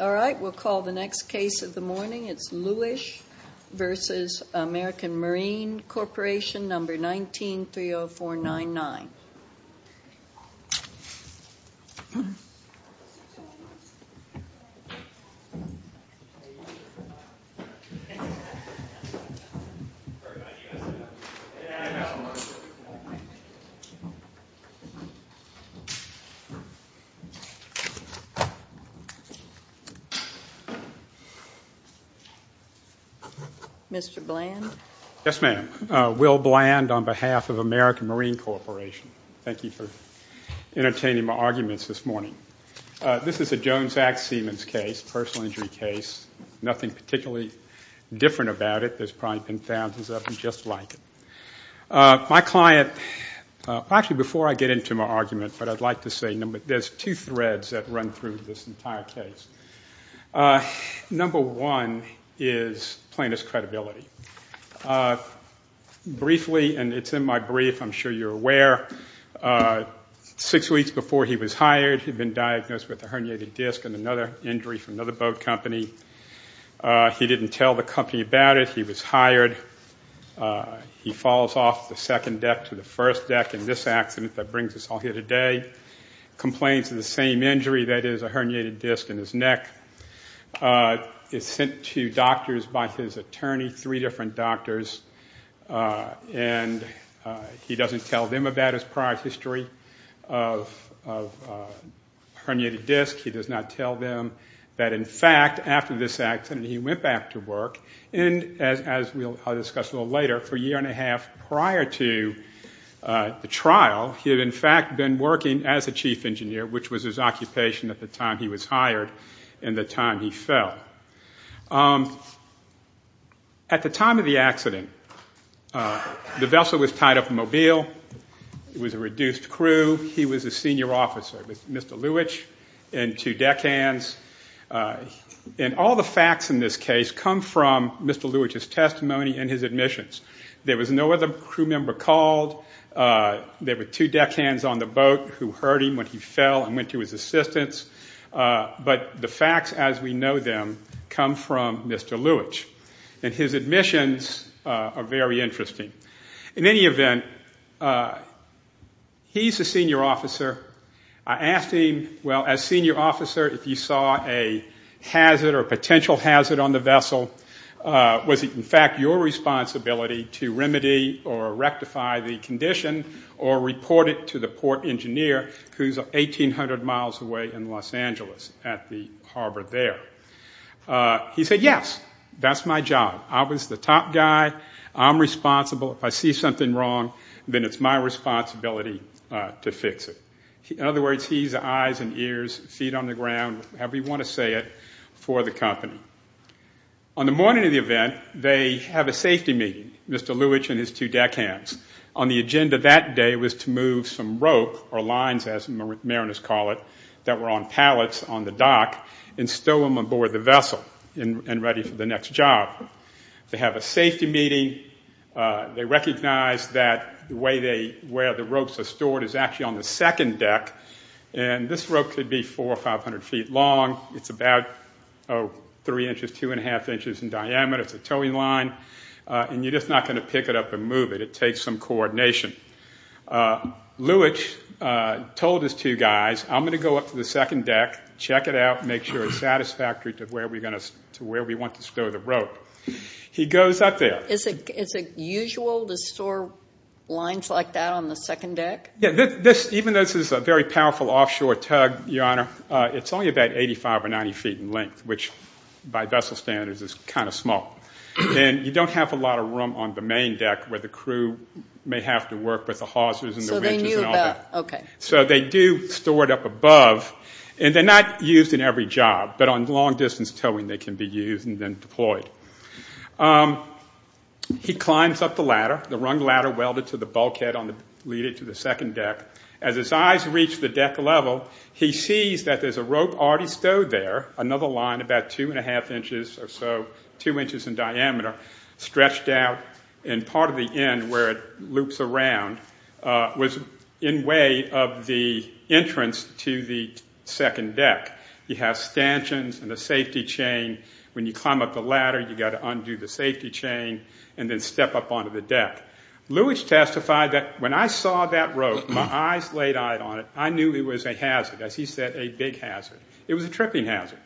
All right, we'll call the next case of the morning. It's Luwisch v. American Marine Corporation, number 19-30499. Mr. Bland? Yes, ma'am. Will Bland on behalf of American Marine Corporation. Thank you for entertaining my arguments this morning. This is a Jones-Axe-Siemens case, a personal injury case, nothing particularly different about it. There's probably been thousands of them just like it. My client, actually before I get into my argument, but I'd like to say there's two threads that run through this entire case. Number one is plaintiff's credibility. Briefly, and it's in my brief, I'm sure you're aware, six weeks before he was hired, he'd been diagnosed with a herniated disc and another injury from another boat company. He didn't tell the company about it. He was hired. He falls off the second deck to the first deck in this accident that brings us all here today. Complains of the same injury, that is a herniated disc in his neck. Is sent to doctors by his attorney, three different doctors, and he doesn't tell them about his prior history of a herniated disc. He does not tell them that in fact after this accident he went back to work, and as we'll discuss a little later, for a year and a half prior to the trial, he had in fact been working as a chief engineer, which was his occupation at the time he was hired and the time he fell. At the time of the accident, the vessel was tied up mobile. It was a reduced crew. He was a senior officer with Mr. Lewitch and two deckhands, and all the facts in this case come from Mr. Lewitch's testimony and his admissions. There was no other crew member called. There were two deckhands on the boat who heard him when he fell and went to his assistance, but the facts as we know them come from Mr. Lewitch, and his admissions are very interesting. In any event, he's a senior officer. I asked him, well, as senior officer, if you saw a hazard or potential hazard on the vessel, was it in fact your responsibility to remedy or rectify the condition or report it to the port engineer who's 1,800 miles away in Los Angeles at the harbor there? He said, yes, that's my job. I was the top guy. I'm responsible. If I see something wrong, then it's my responsibility to fix it. In other words, he's eyes and ears, feet on the ground, however you want to say it, for the company. On the morning of the event, they have a safety meeting, Mr. Lewitch and his two deckhands. On the agenda that day was to move some rope or lines, as mariners call it, that were on pallets on the dock and stow them on board the vessel and ready for the next job. They have a safety meeting. They recognize that where the ropes are stored is actually on the second deck, and this rope could be 400 or 500 feet long. It's about three inches, two and a half inches in diameter. It's a towing line, and you're just not going to pick it up and move it. It takes some coordination. Lewitch told his two guys, I'm going to go up to the second deck, check it out, make sure it's satisfactory to where we want to stow the rope. He goes up there. Is it usual to store lines like that on the second deck? Yeah, even though this is a very powerful offshore tug, Your Honor, it's only about 85 or 90 feet in length, which by vessel standards is kind of small. And you don't have a lot of room on the main deck where the crew may have to work with the hawsers and the winches and all that. So they do store it up above, and they're not used in every job, but on long-distance towing they can be used and then deployed. He climbs up the ladder, the rung ladder welded to the bulkhead leading to the second deck. As his eyes reach the deck level, he sees that there's a rope already stowed there, another line about two and a half inches or so, two inches in diameter, stretched out, and part of the end where it loops around was in way of the entrance to the second deck. It has stanchions and a safety chain. When you climb up the ladder, you've got to undo the safety chain and then step up onto the deck. Lewitch testified that when I saw that rope, my eyes laid out on it, I knew it was a hazard, as he said, a big hazard. It was a tripping hazard.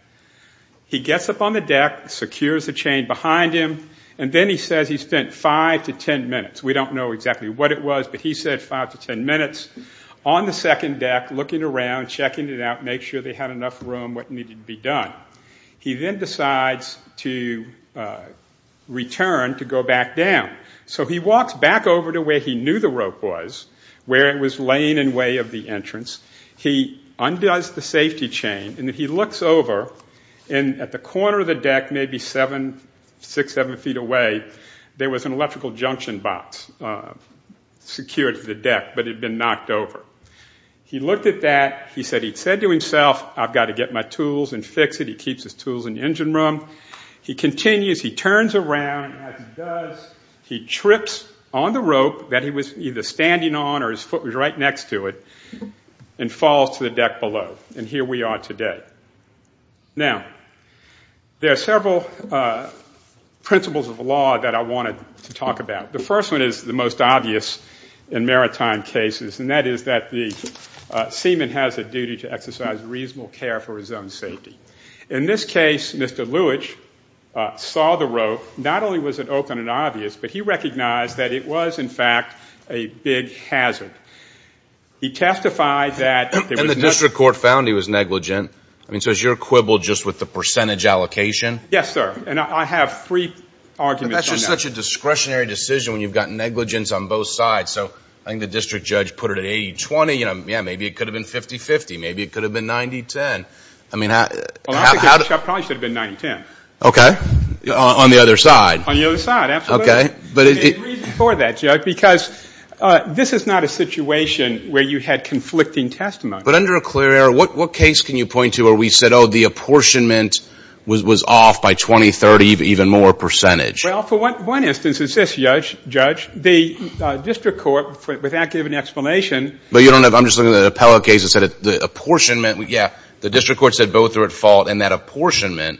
He gets up on the deck, secures the chain behind him, and then he says he spent five to ten minutes. We don't know exactly what it was, but he said five to ten minutes on the second deck looking around, checking it out, making sure they had enough room, what needed to be done. He then decides to return to go back down. So he walks back over to where he knew the rope was, where it was laying in way of the entrance. He undoes the safety chain, and then he looks over, and at the corner of the deck, maybe six, seven feet away, there was an electrical junction box secured to the deck, but it had been knocked over. He looked at that. He said to himself, I've got to get my tools and fix it. He keeps his tools in the engine room. He continues. He turns around, and as he does, he trips on the rope that he was either standing on or his foot was right next to it, and falls to the deck below. And here we are today. Now, there are several principles of the law that I wanted to talk about. The first one is the most obvious in maritime cases, and that is that the seaman has a duty to exercise reasonable care for his own safety. So not only was it open and obvious, but he recognized that it was, in fact, a big hazard. He testified that there was no ---- And the district court found he was negligent. I mean, so is your quibble just with the percentage allocation? Yes, sir. And I have free arguments on that. But that's just such a discretionary decision when you've got negligence on both sides. So I think the district judge put it at 80-20. Yeah, maybe it could have been 50-50. Maybe it could have been 90-10. I mean, how ---- Well, I probably should have been 90-10. Okay. On the other side. On the other side, absolutely. Okay. There's a reason for that, Judge, because this is not a situation where you had conflicting testimony. But under a clear error, what case can you point to where we said, oh, the apportionment was off by 20-30, even more percentage? Well, for one instance, it's this, Judge. The district court, without giving an explanation ---- But you don't have ---- I'm just looking at an appellate case that said the apportionment ---- Yeah. The district court said both are at fault, and that apportionment,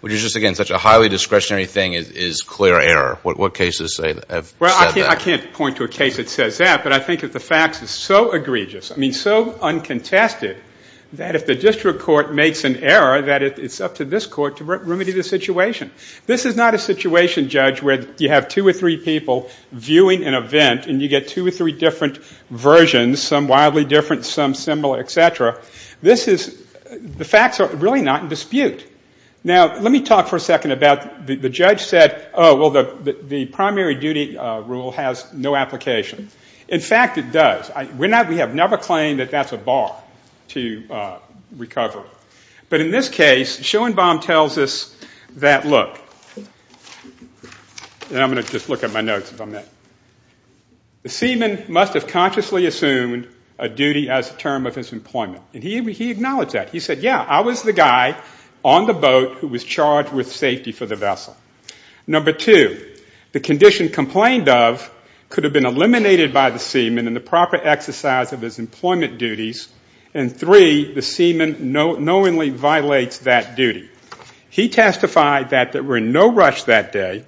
which is just, again, such a highly discretionary thing, is clear error. What cases have said that? Well, I can't point to a case that says that, but I think that the facts are so egregious, I mean so uncontested, that if the district court makes an error, that it's up to this court to remedy the situation. This is not a situation, Judge, where you have two or three people viewing an event, and you get two or three different versions, some wildly different, some similar, et cetera. This is ---- The facts are really not in dispute. Now, let me talk for a second about the judge said, oh, well, the primary duty rule has no application. In fact, it does. We have never claimed that that's a bar to recover. But in this case, Schoenbaum tells us that, look, and I'm going to just look at my notes if I may. The seaman must have consciously assumed a duty as a term of his employment. And he acknowledged that. He said, yeah, I was the guy on the boat who was charged with safety for the vessel. Number two, the condition complained of could have been eliminated by the seaman in the proper exercise of his employment duties. And three, the seaman knowingly violates that duty. He testified that they were in no rush that day.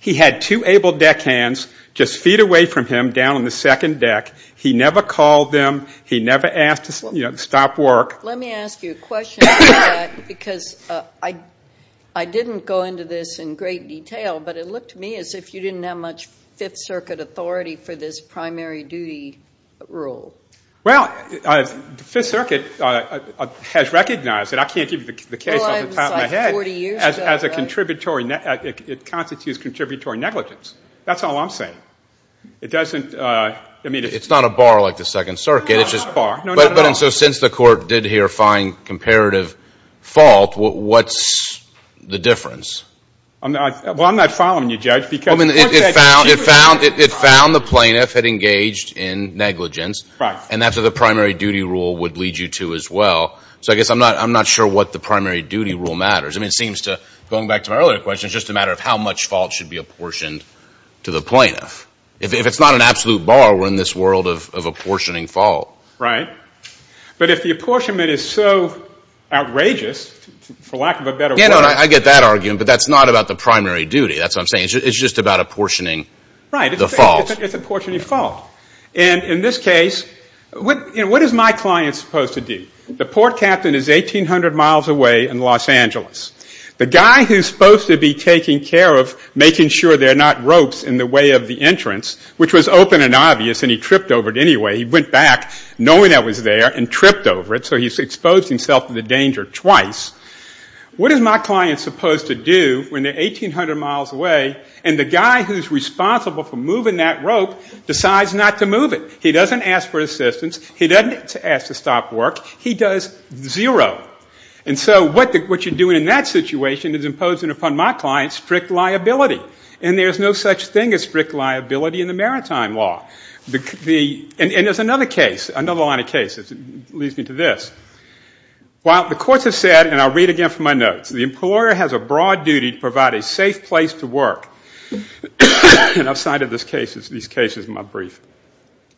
He had two able deckhands just feet away from him down on the second deck. He never called them. He never asked to stop work. Let me ask you a question about that because I didn't go into this in great detail, but it looked to me as if you didn't have much Fifth Circuit authority for this primary duty rule. Well, the Fifth Circuit has recognized it. I can't give you the case off the top of my head. As a contributory, it constitutes contributory negligence. That's all I'm saying. It doesn't, I mean. It's not a bar like the Second Circuit. No, not at all. So since the court did here find comparative fault, what's the difference? Well, I'm not following you, Judge. It found the plaintiff had engaged in negligence. Right. And that's what the primary duty rule would lead you to as well. So I guess I'm not sure what the primary duty rule matters. I mean, it seems to, going back to my earlier question, it's just a matter of how much fault should be apportioned to the plaintiff. If it's not an absolute bar, we're in this world of apportioning fault. Right. But if the apportionment is so outrageous, for lack of a better word. Yeah, no, I get that argument, but that's not about the primary duty. That's what I'm saying. It's just about apportioning the fault. Right. It's apportioning fault. And in this case, what is my client supposed to do? The port captain is 1,800 miles away in Los Angeles. The guy who's supposed to be taking care of making sure there are not ropes in the way of the entrance, which was open and obvious and he tripped over it anyway, he went back knowing that was there and tripped over it, so he's exposed himself to the danger twice. What is my client supposed to do when they're 1,800 miles away and the guy who's responsible for moving that rope decides not to move it? He doesn't ask for assistance. He doesn't ask to stop work. He does zero. And so what you're doing in that situation is imposing upon my client strict liability, and there's no such thing as strict liability in the maritime law. And there's another case, another line of cases. It leads me to this. While the courts have said, and I'll read again from my notes, the employer has a broad duty to provide a safe place to work. And I've cited these cases in my brief.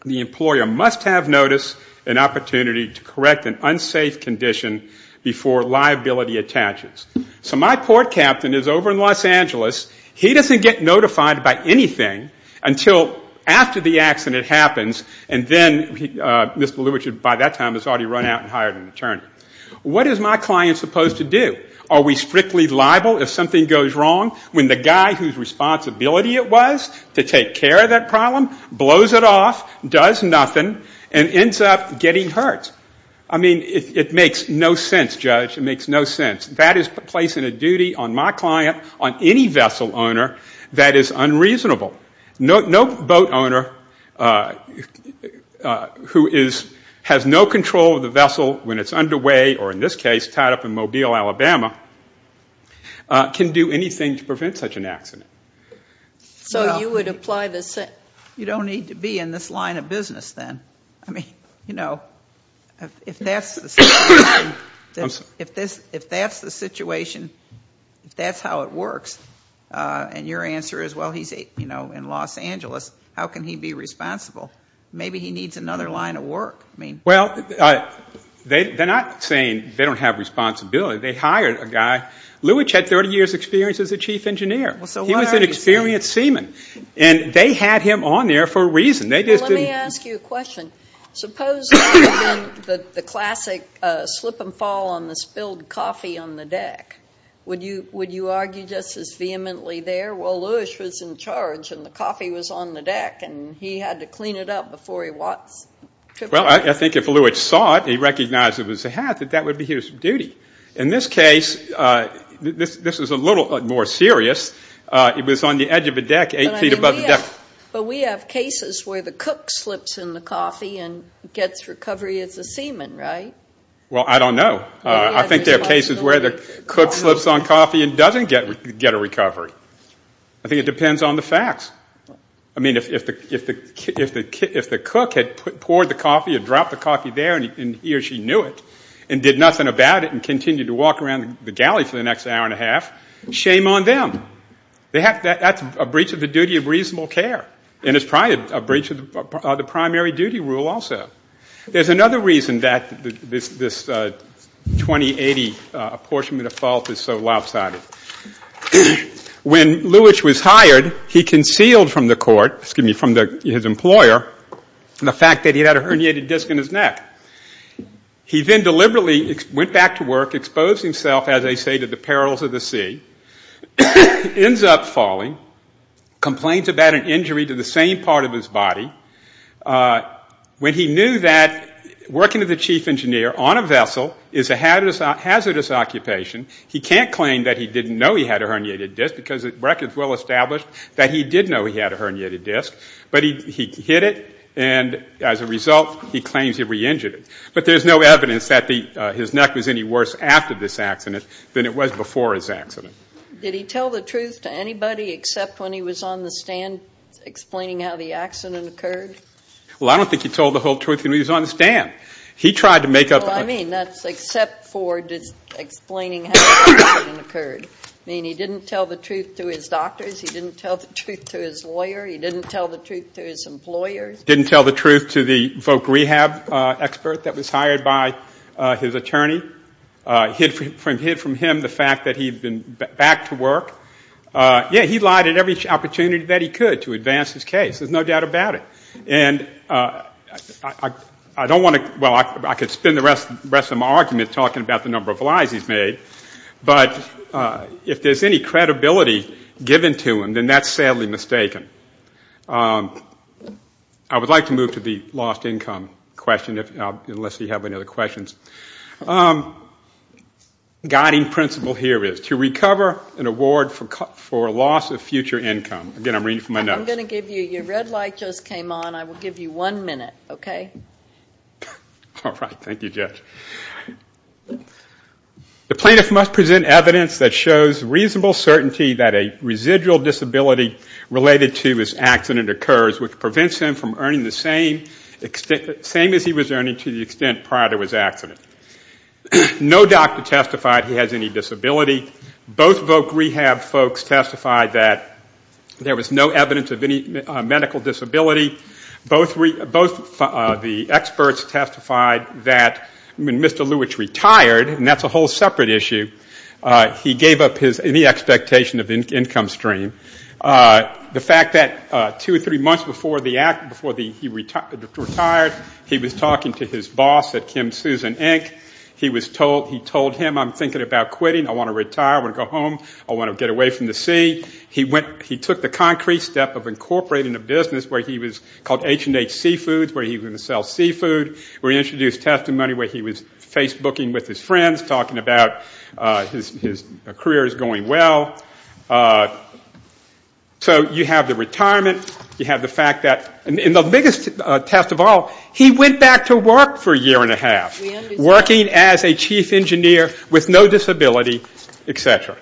The employer must have notice and opportunity to correct an unsafe condition before liability attaches. So my port captain is over in Los Angeles. He doesn't get notified by anything until after the accident happens, and then Mr. Lewitsch by that time has already run out and hired an attorney. What is my client supposed to do? Are we strictly liable if something goes wrong when the guy whose responsibility it was to take care of that problem blows it off, does nothing, and ends up getting hurt? I mean, it makes no sense, Judge. It makes no sense. That is placing a duty on my client, on any vessel owner, that is unreasonable. No boat owner who has no control of the vessel when it's underway, or in this case tied up in Mobile, Alabama, can do anything to prevent such an accident. So you would apply the same? You don't need to be in this line of business then. I mean, you know, if that's the situation, if that's how it works, and your answer is, well, he's in Los Angeles, how can he be responsible? Maybe he needs another line of work. Well, they're not saying they don't have responsibility. They hired a guy. Lewitsch had 30 years' experience as a chief engineer. He was an experienced seaman. And they had him on there for a reason. Let me ask you a question. Suppose there had been the classic slip and fall on the spilled coffee on the deck. Would you argue just as vehemently there? Well, Lewitsch was in charge, and the coffee was on the deck, and he had to clean it up before he could put it back. Well, I think if Lewitsch saw it, he recognized it was a hat, that that would be his duty. In this case, this is a little more serious. It was on the edge of the deck, eight feet above the deck. But we have cases where the cook slips in the coffee and gets recovery as a seaman, right? Well, I don't know. I think there are cases where the cook slips on coffee and doesn't get a recovery. I think it depends on the facts. I mean, if the cook had poured the coffee, had dropped the coffee there, and he or she knew it and did nothing about it and continued to walk around the galley for the next hour and a half, shame on them. That's a breach of the duty of reasonable care, and it's probably a breach of the primary duty rule also. There's another reason that this 2080 apportionment of fault is so lopsided. When Lewitsch was hired, he concealed from the court, excuse me, from his employer, the fact that he had a herniated disc in his neck. He then deliberately went back to work, exposed himself, as they say, to the perils of the sea, ends up falling, complains about an injury to the same part of his body. When he knew that working as a chief engineer on a vessel is a hazardous occupation, he can't claim that he didn't know he had a herniated disc because the record is well established that he did know he had a herniated disc. But he hid it, and as a result, he claims he re-injured it. But there's no evidence that his neck was any worse after this accident than it was before his accident. Did he tell the truth to anybody except when he was on the stand explaining how the accident occurred? Well, I don't think he told the whole truth when he was on the stand. He tried to make up a... Well, I mean, that's except for explaining how the accident occurred. I mean, he didn't tell the truth to his doctors. He didn't tell the truth to his lawyer. He didn't tell the truth to his employers. He didn't tell the truth to the voc rehab expert that was hired by his attorney. He hid from him the fact that he had been back to work. Yeah, he lied at every opportunity that he could to advance his case. There's no doubt about it. And I don't want to... Well, I could spend the rest of my argument talking about the number of lies he's made, but if there's any credibility given to him, then that's sadly mistaken. I would like to move to the lost income question unless you have any other questions. The guiding principle here is to recover an award for loss of future income. Again, I'm reading from my notes. I'm going to give you... Your red light just came on. I will give you one minute, okay? All right. Thank you, Judge. The plaintiff must present evidence that shows reasonable certainty that a residual disability related to his accident occurs, which prevents him from earning the same as he was earning to the extent prior to his accident. No doctor testified he has any disability. Both voc rehab folks testified that there was no evidence of any medical disability. Both the experts testified that when Mr. Lewits retired, and that's a whole separate issue, he gave up any expectation of income stream. The fact that two or three months before he retired, he was talking to his boss at Kim Susan Inc. He told him, I'm thinking about quitting. I want to retire. I want to go home. I want to get away from the sea. He took the concrete step of incorporating a business where he was called H&H Seafoods, where he was going to sell seafood. We introduced testimony where he was Facebooking with his friends, talking about his career is going well. So you have the retirement. You have the fact that... And the biggest test of all, he went back to work for a year and a half, working as a chief engineer with no disability, et cetera.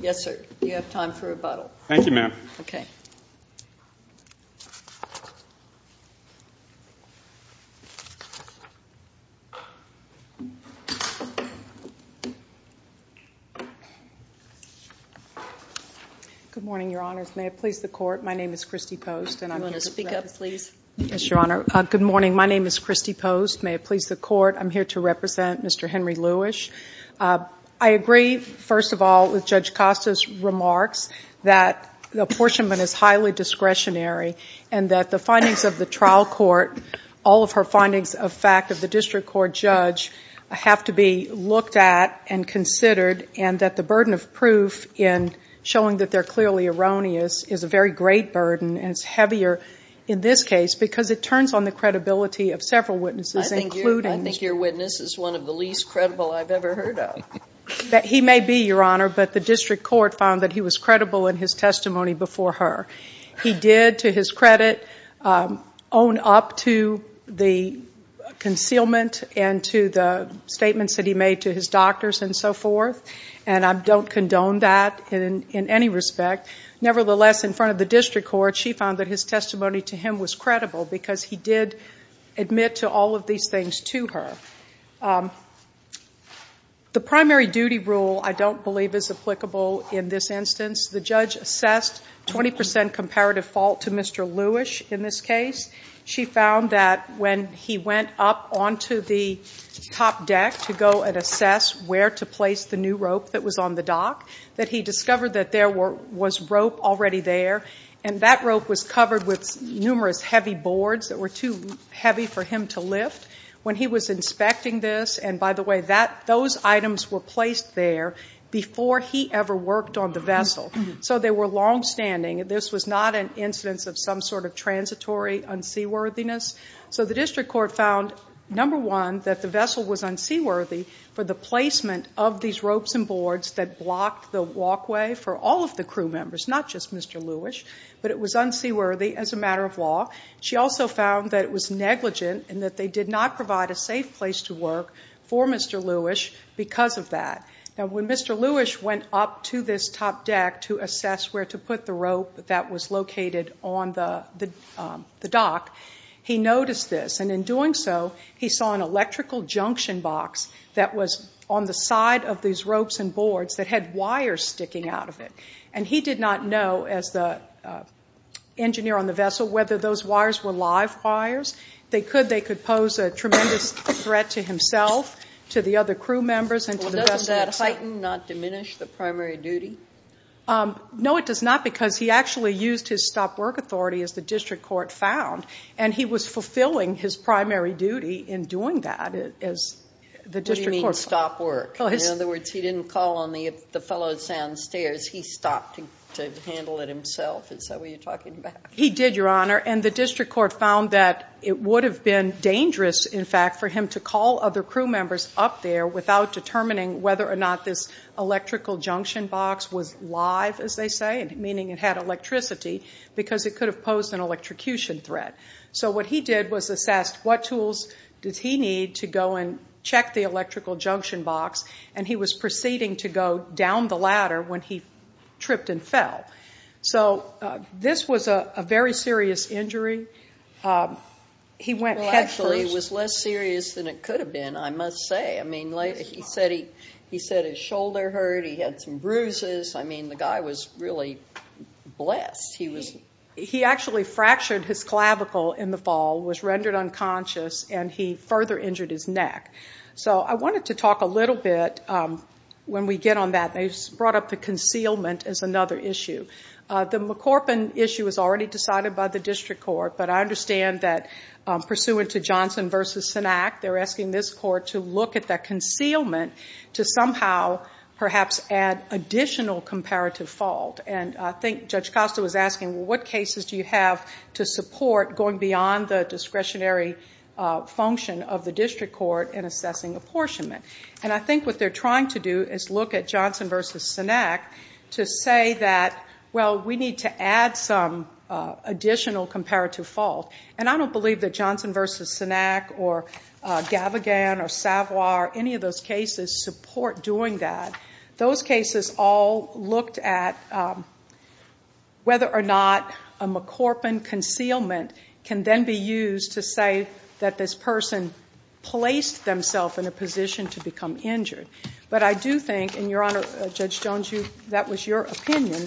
Yes, sir. You have time for rebuttal. Thank you, ma'am. Okay. Good morning, Your Honors. May it please the Court, my name is Christy Post. You want to speak up, please? Yes, Your Honor. Good morning. My name is Christy Post. May it please the Court, I'm here to represent Mr. Henry Lewis. I agree, first of all, with Judge Costa's remarks, that the apportionment is highly discretionary and that the findings of the trial court, all of her findings of fact of the district court judge, have to be looked at and considered and that the burden of proof in showing that they're clearly erroneous is a very great burden and it's heavier in this case because it turns on the credibility of several witnesses, including... He may be, Your Honor, but the district court found that he was credible in his testimony before her. He did, to his credit, own up to the concealment and to the statements that he made to his doctors and so forth, and I don't condone that in any respect. Nevertheless, in front of the district court, she found that his testimony to him was credible because he did admit to all of these things to her. The primary duty rule, I don't believe, is applicable in this instance. The judge assessed 20% comparative fault to Mr. Lewis in this case. She found that when he went up onto the top deck to go and assess where to place the new rope that was on the dock, that he discovered that there was rope already there and that rope was covered with numerous heavy boards that were too heavy for him to lift. When he was inspecting this, and by the way, those items were placed there before he ever worked on the vessel, so they were longstanding. This was not an incidence of some sort of transitory unseaworthiness. So the district court found, number one, that the vessel was unseaworthy for the placement of these ropes and boards that blocked the walkway for all of the crew members, not just Mr. Lewis, but it was unseaworthy as a matter of law. She also found that it was negligent and that they did not provide a safe place to work for Mr. Lewis because of that. Now, when Mr. Lewis went up to this top deck to assess where to put the rope that was located on the dock, he noticed this, and in doing so, he saw an electrical junction box that was on the side of these ropes and boards that had wires sticking out of it. And he did not know, as the engineer on the vessel, whether those wires were live wires. They could. They could pose a tremendous threat to himself, to the other crew members, and to the vessel itself. Well, doesn't that heighten, not diminish, the primary duty? No, it does not, because he actually used his stop-work authority, as the district court found, and he was fulfilling his primary duty in doing that, as the district court found. What do you mean, stop work? In other words, he didn't call on the fellow downstairs. He stopped to handle it himself. Is that what you're talking about? He did, Your Honor, and the district court found that it would have been dangerous, in fact, for him to call other crew members up there without determining whether or not this electrical junction box was live, as they say, meaning it had electricity, because it could have posed an electrocution threat. So what he did was assess what tools did he need to go and check the electrical junction box, and he was proceeding to go down the ladder when he tripped and fell. So this was a very serious injury. He went head first. Well, actually, it was less serious than it could have been, I must say. I mean, he said his shoulder hurt, he had some bruises. I mean, the guy was really blessed. He actually fractured his clavicle in the fall, was rendered unconscious, and he further injured his neck. So I wanted to talk a little bit, when we get on that, they brought up the concealment as another issue. The McCorpin issue was already decided by the district court, but I understand that pursuant to Johnson v. Sennac, they're asking this court to look at that concealment to somehow perhaps add additional comparative fault. And I think Judge Costa was asking, well, what cases do you have to support going beyond the discretionary function of the district court in assessing apportionment? And I think what they're trying to do is look at Johnson v. Sennac to say that, well, we need to add some additional comparative fault. And I don't believe that Johnson v. Sennac or Gavigan or Savoie or any of those cases support doing that. Those cases all looked at whether or not a McCorpin concealment can then be used to say that this person placed themselves in a position to become injured. But I do think, and, Your Honor, Judge Jones, that was your opinion.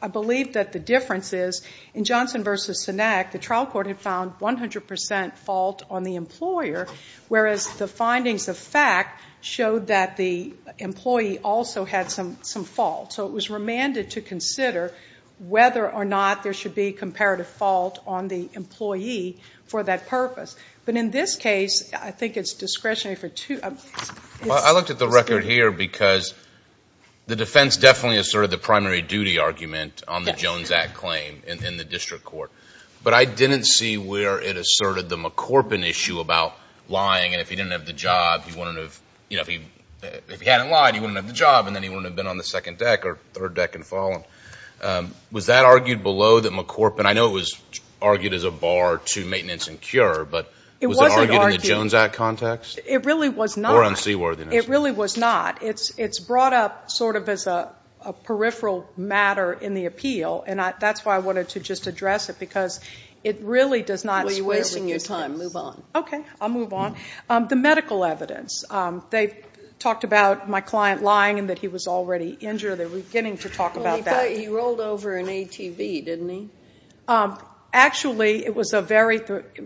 I believe that the difference is in Johnson v. Sennac, the trial court had found 100% fault on the employer, whereas the findings of fact showed that the employee also had some fault. So it was remanded to consider whether or not there should be comparative fault on the employee for that purpose. But in this case, I think it's discretionary for two. Well, I looked at the record here because the defense definitely asserted the primary duty argument on the Jones Act claim in the district court. But I didn't see where it asserted the McCorpin issue about lying, and if he didn't have the job, he wouldn't have, you know, Was that argued below the McCorpin? I know it was argued as a bar to maintenance and cure, but was it argued in the Jones Act context? It really was not. Or unseaworthiness. It really was not. It's brought up sort of as a peripheral matter in the appeal, and that's why I wanted to just address it because it really does not square with your case. Well, you're wasting your time. Move on. Okay, I'll move on. The medical evidence. They talked about my client lying and that he was already injured. They're beginning to talk about that. Well, he rolled over an ATV, didn't he? Actually, it was a very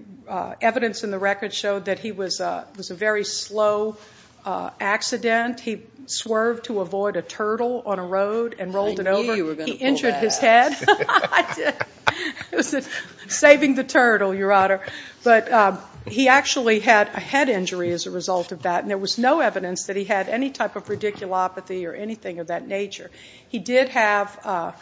– evidence in the record showed that he was a very slow accident. He swerved to avoid a turtle on a road and rolled it over. I knew you were going to pull that out. He injured his head. Saving the turtle, Your Honor. But he actually had a head injury as a result of that, and there was no evidence that he had any type of radiculopathy or anything of that nature. He did have severe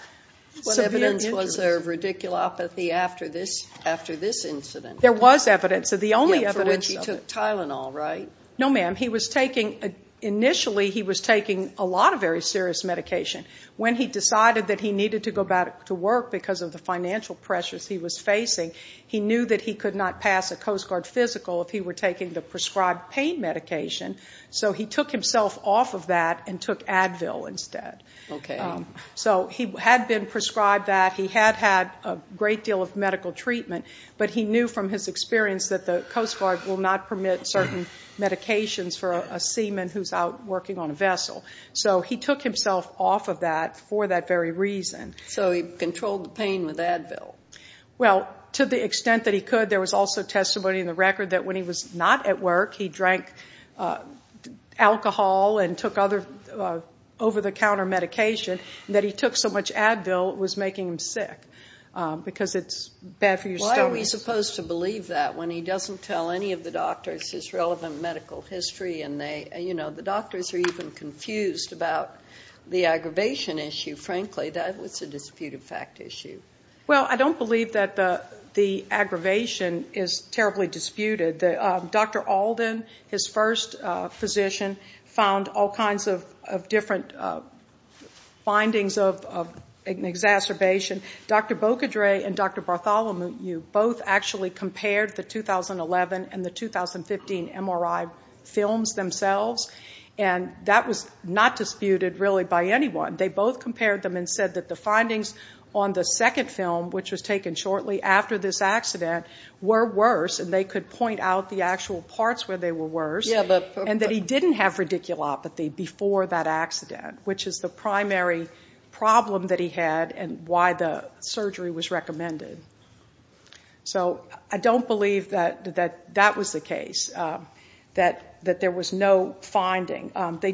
injuries. What evidence was there of radiculopathy after this incident? There was evidence. The only evidence of it. For which he took Tylenol, right? No, ma'am. He was taking – initially he was taking a lot of very serious medication. When he decided that he needed to go back to work because of the financial pressures he was facing, he knew that he could not pass a Coast Guard physical if he were taking the prescribed pain medication, so he took himself off of that and took Advil instead. Okay. So he had been prescribed that. He had had a great deal of medical treatment, but he knew from his experience that the Coast Guard will not permit certain medications for a seaman who's out working on a vessel. So he took himself off of that for that very reason. So he controlled the pain with Advil? Well, to the extent that he could, there was also testimony in the record that when he was not at work, he drank alcohol and took other over-the-counter medication, and that he took so much Advil it was making him sick because it's bad for your stomach. Why are we supposed to believe that when he doesn't tell any of the doctors his relevant medical history and the doctors are even confused about the aggravation issue? Frankly, that was a disputed fact issue. Well, I don't believe that the aggravation is terribly disputed. Dr. Alden, his first physician, found all kinds of different findings of exacerbation. Dr. Bokodre and Dr. Bartholomew both actually compared the 2011 and the 2015 MRI films themselves, and that was not disputed really by anyone. They both compared them and said that the findings on the second film, which was taken shortly after this accident, were worse, and they could point out the actual parts where they were worse, and that he didn't have radiculopathy before that accident, which is the primary problem that he had and why the surgery was recommended. So I don't believe that that was the case, that there was no finding. He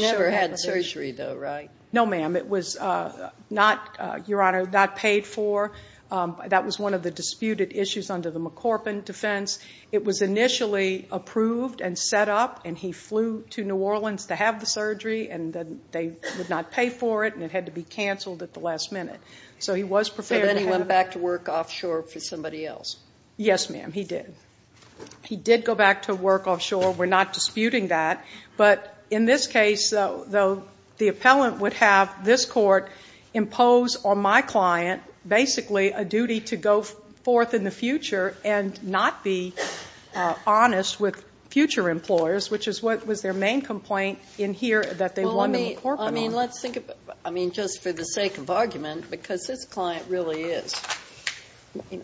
never had surgery, though, right? No, ma'am. It was not paid for. That was one of the disputed issues under the McCorpin defense. It was initially approved and set up, and he flew to New Orleans to have the surgery, and they would not pay for it, and it had to be canceled at the last minute. So then he went back to work offshore for somebody else? Yes, ma'am, he did. He did go back to work offshore. We're not disputing that. But in this case, though, the appellant would have this court impose on my client, basically, a duty to go forth in the future and not be honest with future employers, which was their main complaint in here that they wanted McCorpin on. I mean, let's think about it, I mean, just for the sake of argument, because this client really is.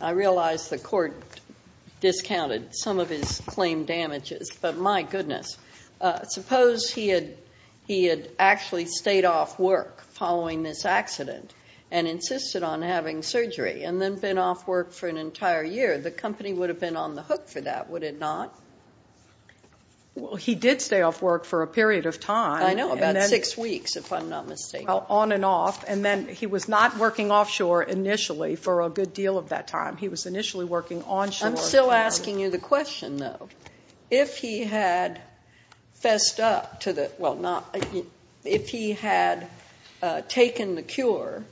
I realize the court discounted some of his claim damages, but my goodness, suppose he had actually stayed off work following this accident and insisted on having surgery and then been off work for an entire year. The company would have been on the hook for that, would it not? Well, he did stay off work for a period of time. I know, about six weeks, if I'm not mistaken. Well, on and off, and then he was not working offshore initially for a good deal of that time. He was initially working onshore. I'm still asking you the question, though. If he had fessed up to the ñ well, not ñ if he had taken the cure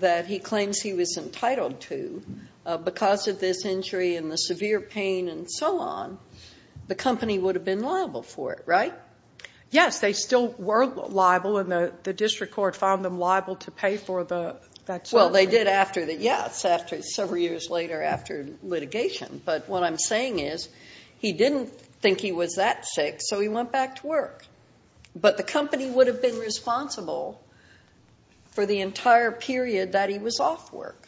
that he claims he was entitled to because of this injury and the severe pain and so on, the company would have been liable for it, right? Yes, they still were liable, and the district court found them liable to pay for that surgery. Well, they did after the ñ yes, several years later after litigation. But what I'm saying is he didn't think he was that sick, so he went back to work. But the company would have been responsible for the entire period that he was off work.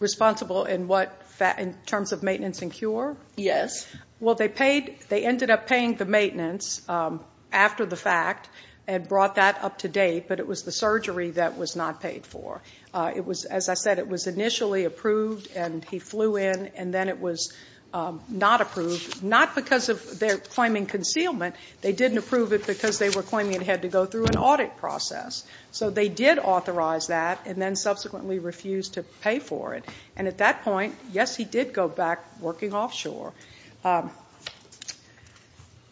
Responsible in what ñ in terms of maintenance and cure? Yes. Well, they paid ñ they ended up paying the maintenance after the fact and brought that up to date, but it was the surgery that was not paid for. As I said, it was initially approved, and he flew in, and then it was not approved, not because of their claiming concealment. They didn't approve it because they were claiming it had to go through an audit process. So they did authorize that and then subsequently refused to pay for it. And at that point, yes, he did go back working offshore.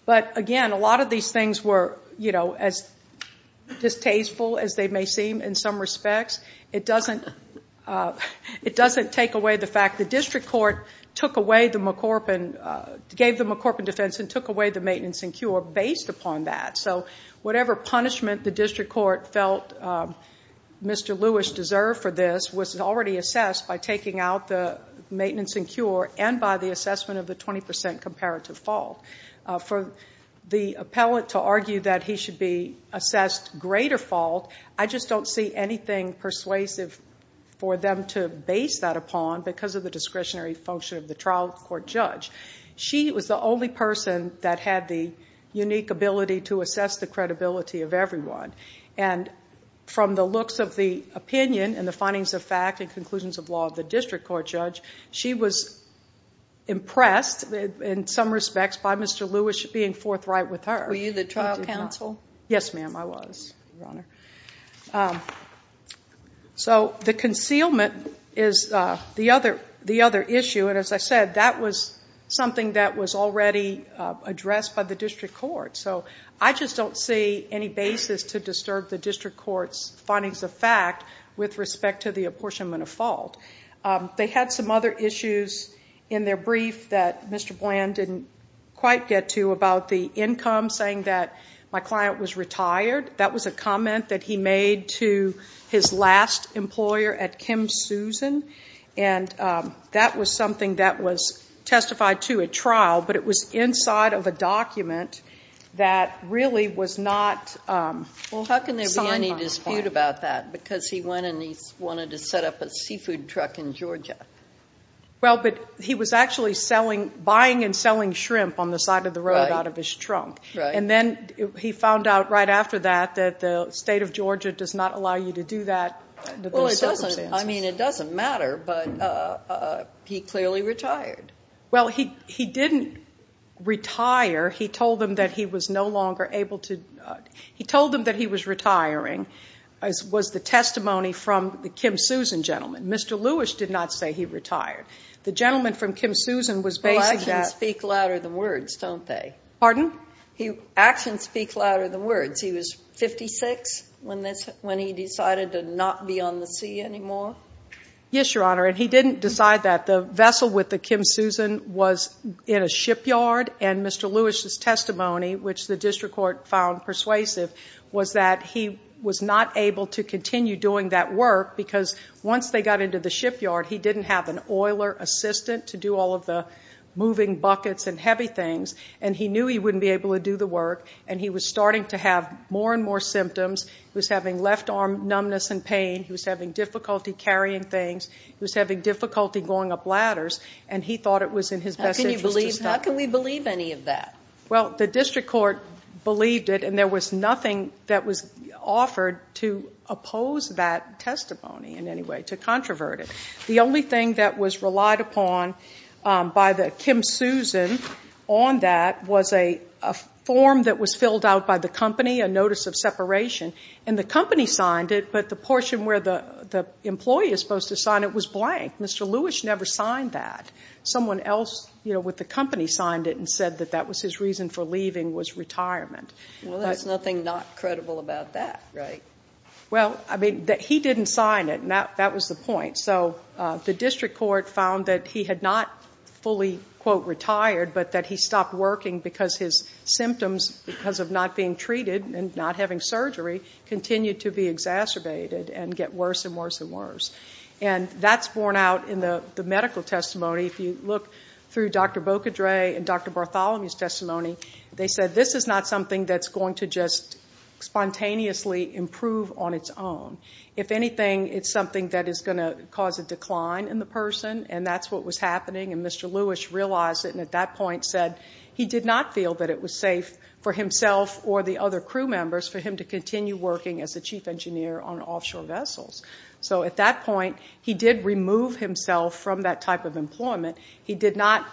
But, again, a lot of these things were, you know, as distasteful as they may seem in some respects. It doesn't take away the fact the district court took away the McCorpin ñ gave the McCorpin defense and took away the maintenance and cure based upon that. So whatever punishment the district court felt Mr. Lewis deserved for this was already assessed by taking out the maintenance and cure and by the assessment of the 20 percent comparative fault. For the appellate to argue that he should be assessed greater fault, I just don't see anything persuasive for them to base that upon because of the discretionary function of the trial court judge. She was the only person that had the unique ability to assess the credibility of everyone. And from the looks of the opinion and the findings of fact and conclusions of law of the district court judge, she was impressed in some respects by Mr. Lewis being forthright with her. Were you the trial counsel? Yes, ma'am, I was, Your Honor. So the concealment is the other issue. And as I said, that was something that was already addressed by the district court. So I just don't see any basis to disturb the district court's findings of fact with respect to the apportionment of fault. They had some other issues in their brief that Mr. Bland didn't quite get to about the income saying that my client was retired. That was a comment that he made to his last employer at Kim Susan, and that was something that was testified to at trial, but it was inside of a document that really was not signed by the client. Well, how can there be any dispute about that? Because he went and he wanted to set up a seafood truck in Georgia. Well, but he was actually buying and selling shrimp on the side of the road out of his trunk. Right. And then he found out right after that that the state of Georgia does not allow you to do that. Well, it doesn't. I mean, it doesn't matter, but he clearly retired. Well, he didn't retire. He told them that he was no longer able to. He told them that he was retiring was the testimony from the Kim Susan gentleman. Mr. Lewis did not say he retired. The gentleman from Kim Susan was based at. Well, actions speak louder than words, don't they? Pardon? Actions speak louder than words. He was 56 when he decided to not be on the sea anymore? Yes, Your Honor, and he didn't decide that. The vessel with the Kim Susan was in a shipyard, and Mr. Lewis' testimony, which the district court found persuasive, was that he was not able to continue doing that work because once they got into the shipyard, he didn't have an oiler assistant to do all of the moving buckets and heavy things, and he knew he wouldn't be able to do the work, and he was starting to have more and more symptoms. He was having left arm numbness and pain. He was having difficulty carrying things. He was having difficulty going up ladders, and he thought it was in his best interest to stop. How can we believe any of that? Well, the district court believed it, and there was nothing that was offered to oppose that testimony in any way, to controvert it. The only thing that was relied upon by the Kim Susan on that was a form that was filled out by the company, a notice of separation, and the company signed it, but the portion where the employee is supposed to sign it was blank. Mr. Lewis never signed that. Someone else with the company signed it and said that that was his reason for leaving was retirement. Well, there's nothing not credible about that, right? Well, I mean, he didn't sign it, and that was the point. So the district court found that he had not fully, quote, retired, but that he stopped working because his symptoms, because of not being treated and not having surgery, continued to be exacerbated and get worse and worse and worse. And that's borne out in the medical testimony. If you look through Dr. Bocadre and Dr. Bartholomew's testimony, they said this is not something that's going to just spontaneously improve on its own. If anything, it's something that is going to cause a decline in the person, and that's what was happening, and Mr. Lewis realized it and at that point said he did not feel that it was safe for himself or the other crew members for him to continue working as a chief engineer on offshore vessels. So at that point, he did remove himself from that type of employment. He did not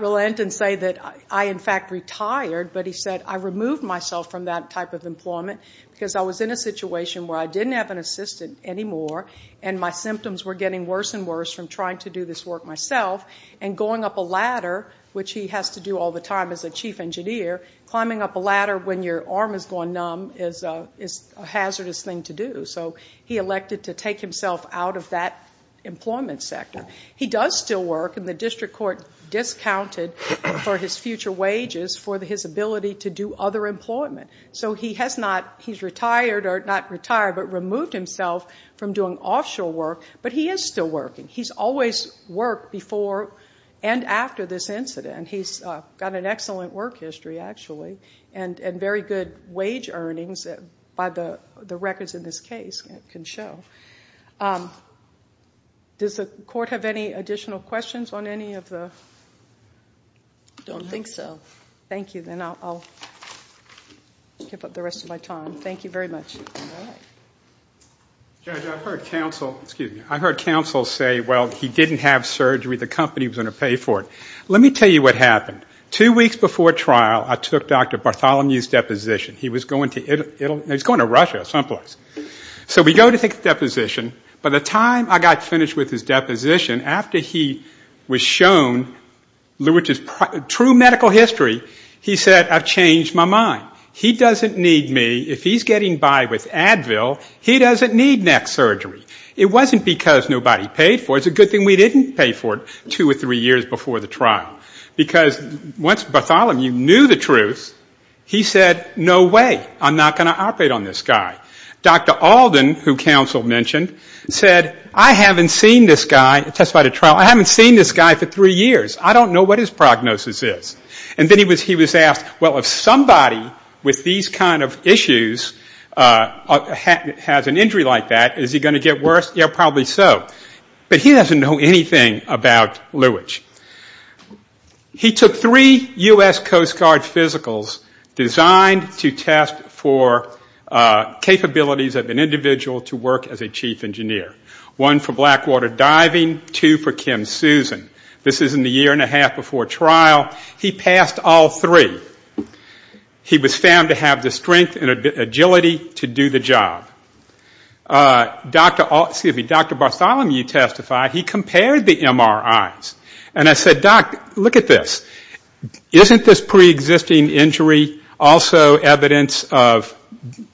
relent and say that I, in fact, retired, but he said I removed myself from that type of employment because I was in a situation where I didn't have an assistant anymore and my symptoms were getting worse and worse from trying to do this work myself, and going up a ladder, which he has to do all the time as a chief engineer, climbing up a ladder when your arm has gone numb is a hazardous thing to do. So he elected to take himself out of that employment sector. He does still work, and the district court discounted for his future wages for his ability to do other employment. So he's retired, or not retired, but removed himself from doing offshore work, but he is still working. He's always worked before and after this incident. He's got an excellent work history, actually, and very good wage earnings by the records in this case can show. Does the court have any additional questions on any of the? I don't think so. Thank you, then I'll give up the rest of my time. Thank you very much. Judge, I've heard counsel say, well, he didn't have surgery, the company was going to pay for it. Let me tell you what happened. Two weeks before trial, I took Dr. Bartholomew's deposition. He was going to Italy. No, he was going to Russia someplace. So we go to take the deposition. By the time I got finished with his deposition, after he was shown Lewitt's true medical history, he said, I've changed my mind. He doesn't need me. If he's getting by with Advil, he doesn't need neck surgery. It wasn't because nobody paid for it. It's a good thing we didn't pay for it two or three years before the trial. Because once Bartholomew knew the truth, he said, no way, I'm not going to operate on this guy. Dr. Alden, who counsel mentioned, said, I haven't seen this guy, testified at trial, I haven't seen this guy for three years. I don't know what his prognosis is. And then he was asked, well, if somebody with these kind of issues has an injury like that, is he going to get worse? Yeah, probably so. But he doesn't know anything about Lewitt. He took three U.S. Coast Guard physicals designed to test for capabilities of an individual to work as a chief engineer. One for blackwater diving, two for Kim Susan. This is in the year and a half before trial. He passed all three. He was found to have the strength and agility to do the job. Dr. Bartholomew testified, he compared the MRIs. And I said, doc, look at this. Isn't this preexisting injury also evidence of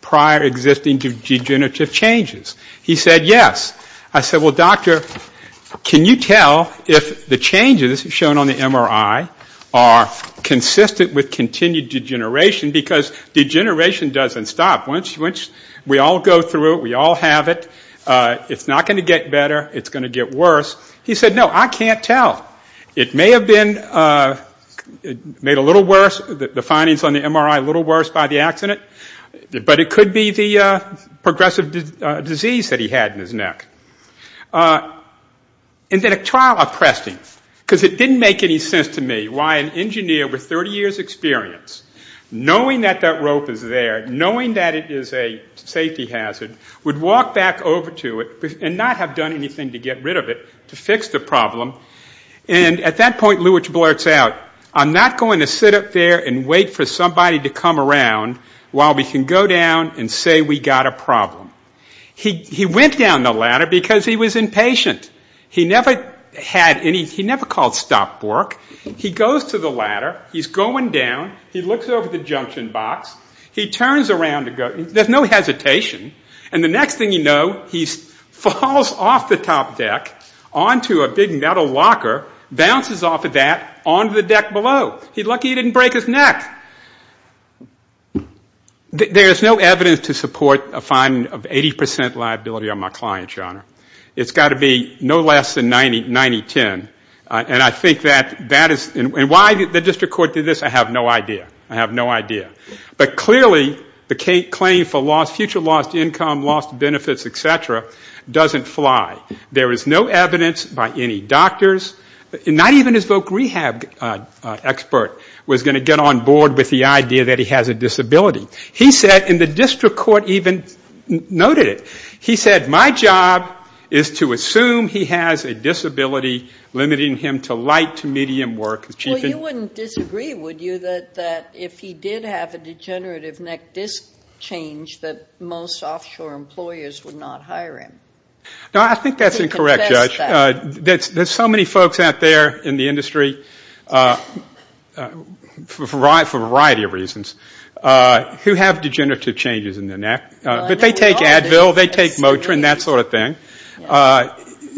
prior existing degenerative changes? He said, yes. I said, well, doctor, can you tell if the changes shown on the MRI are consistent with continued degeneration? Because degeneration doesn't stop. We all go through it. We all have it. It's not going to get better. It's going to get worse. He said, no, I can't tell. It may have been made a little worse, the findings on the MRI a little worse by the accident. But it could be the progressive disease that he had in his neck. And then a trial oppressed him. Because it didn't make any sense to me why an engineer with 30 years' experience, knowing that that rope is there, knowing that it is a safety hazard, would walk back over to it and not have done anything to get rid of it to fix the problem. And at that point, Lewitsch blurts out, I'm not going to sit up there and wait for somebody to come around while we can go down and say we got a problem. He went down the ladder because he was impatient. He never called stop work. He goes to the ladder. He's going down. He looks over the junction box. He turns around to go. There's no hesitation. And the next thing you know, he falls off the top deck onto a big metal locker, bounces off of that onto the deck below. He's lucky he didn't break his neck. There is no evidence to support a fine of 80% liability on my client, Your Honor. It's got to be no less than 90-10. And I think that is why the district court did this. I have no idea. I have no idea. But clearly the claim for future lost income, lost benefits, et cetera, doesn't fly. There is no evidence by any doctors, not even his voc rehab expert was going to get on board with the idea that he has a disability. He said, and the district court even noted it, he said, my job is to assume he has a disability limiting him to light to medium work. Well, you wouldn't disagree, would you, that if he did have a degenerative neck disc change that most offshore employers would not hire him? No, I think that's incorrect, Judge. There's so many folks out there in the industry, for a variety of reasons, who have degenerative changes in their neck. But they take Advil, they take Motrin, that sort of thing.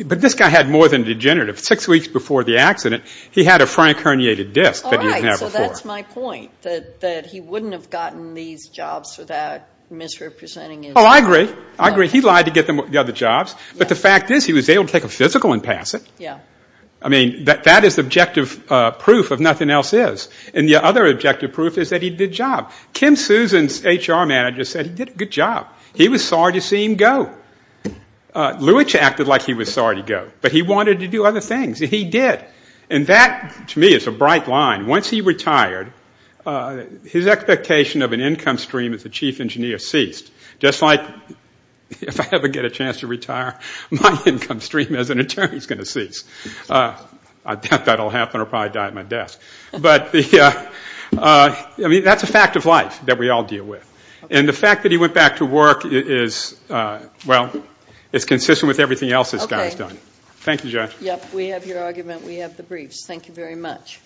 But this guy had more than degenerative. Six weeks before the accident, he had a frank herniated disc that he didn't have before. All right. So that's my point, that he wouldn't have gotten these jobs without misrepresenting his neck. Oh, I agree. I agree. He lied to get the other jobs. But the fact is, he was able to take a physical and pass it. I mean, that is objective proof of nothing else is. And the other objective proof is that he did a good job. Kim Susan's HR manager said he did a good job. He was sorry to see him go. Lewitsch acted like he was sorry to go. But he wanted to do other things, and he did. And that, to me, is a bright line. Once he retired, his expectation of an income stream as a chief engineer ceased. Just like if I ever get a chance to retire, my income stream as an attorney is going to cease. I doubt that will happen, or I'll probably die at my desk. But, I mean, that's a fact of life that we all deal with. And the fact that he went back to work is, well, it's consistent with everything else this guy has done. Okay. Thank you, Judge. Yep, we have your argument. We have the briefs. Thank you very much.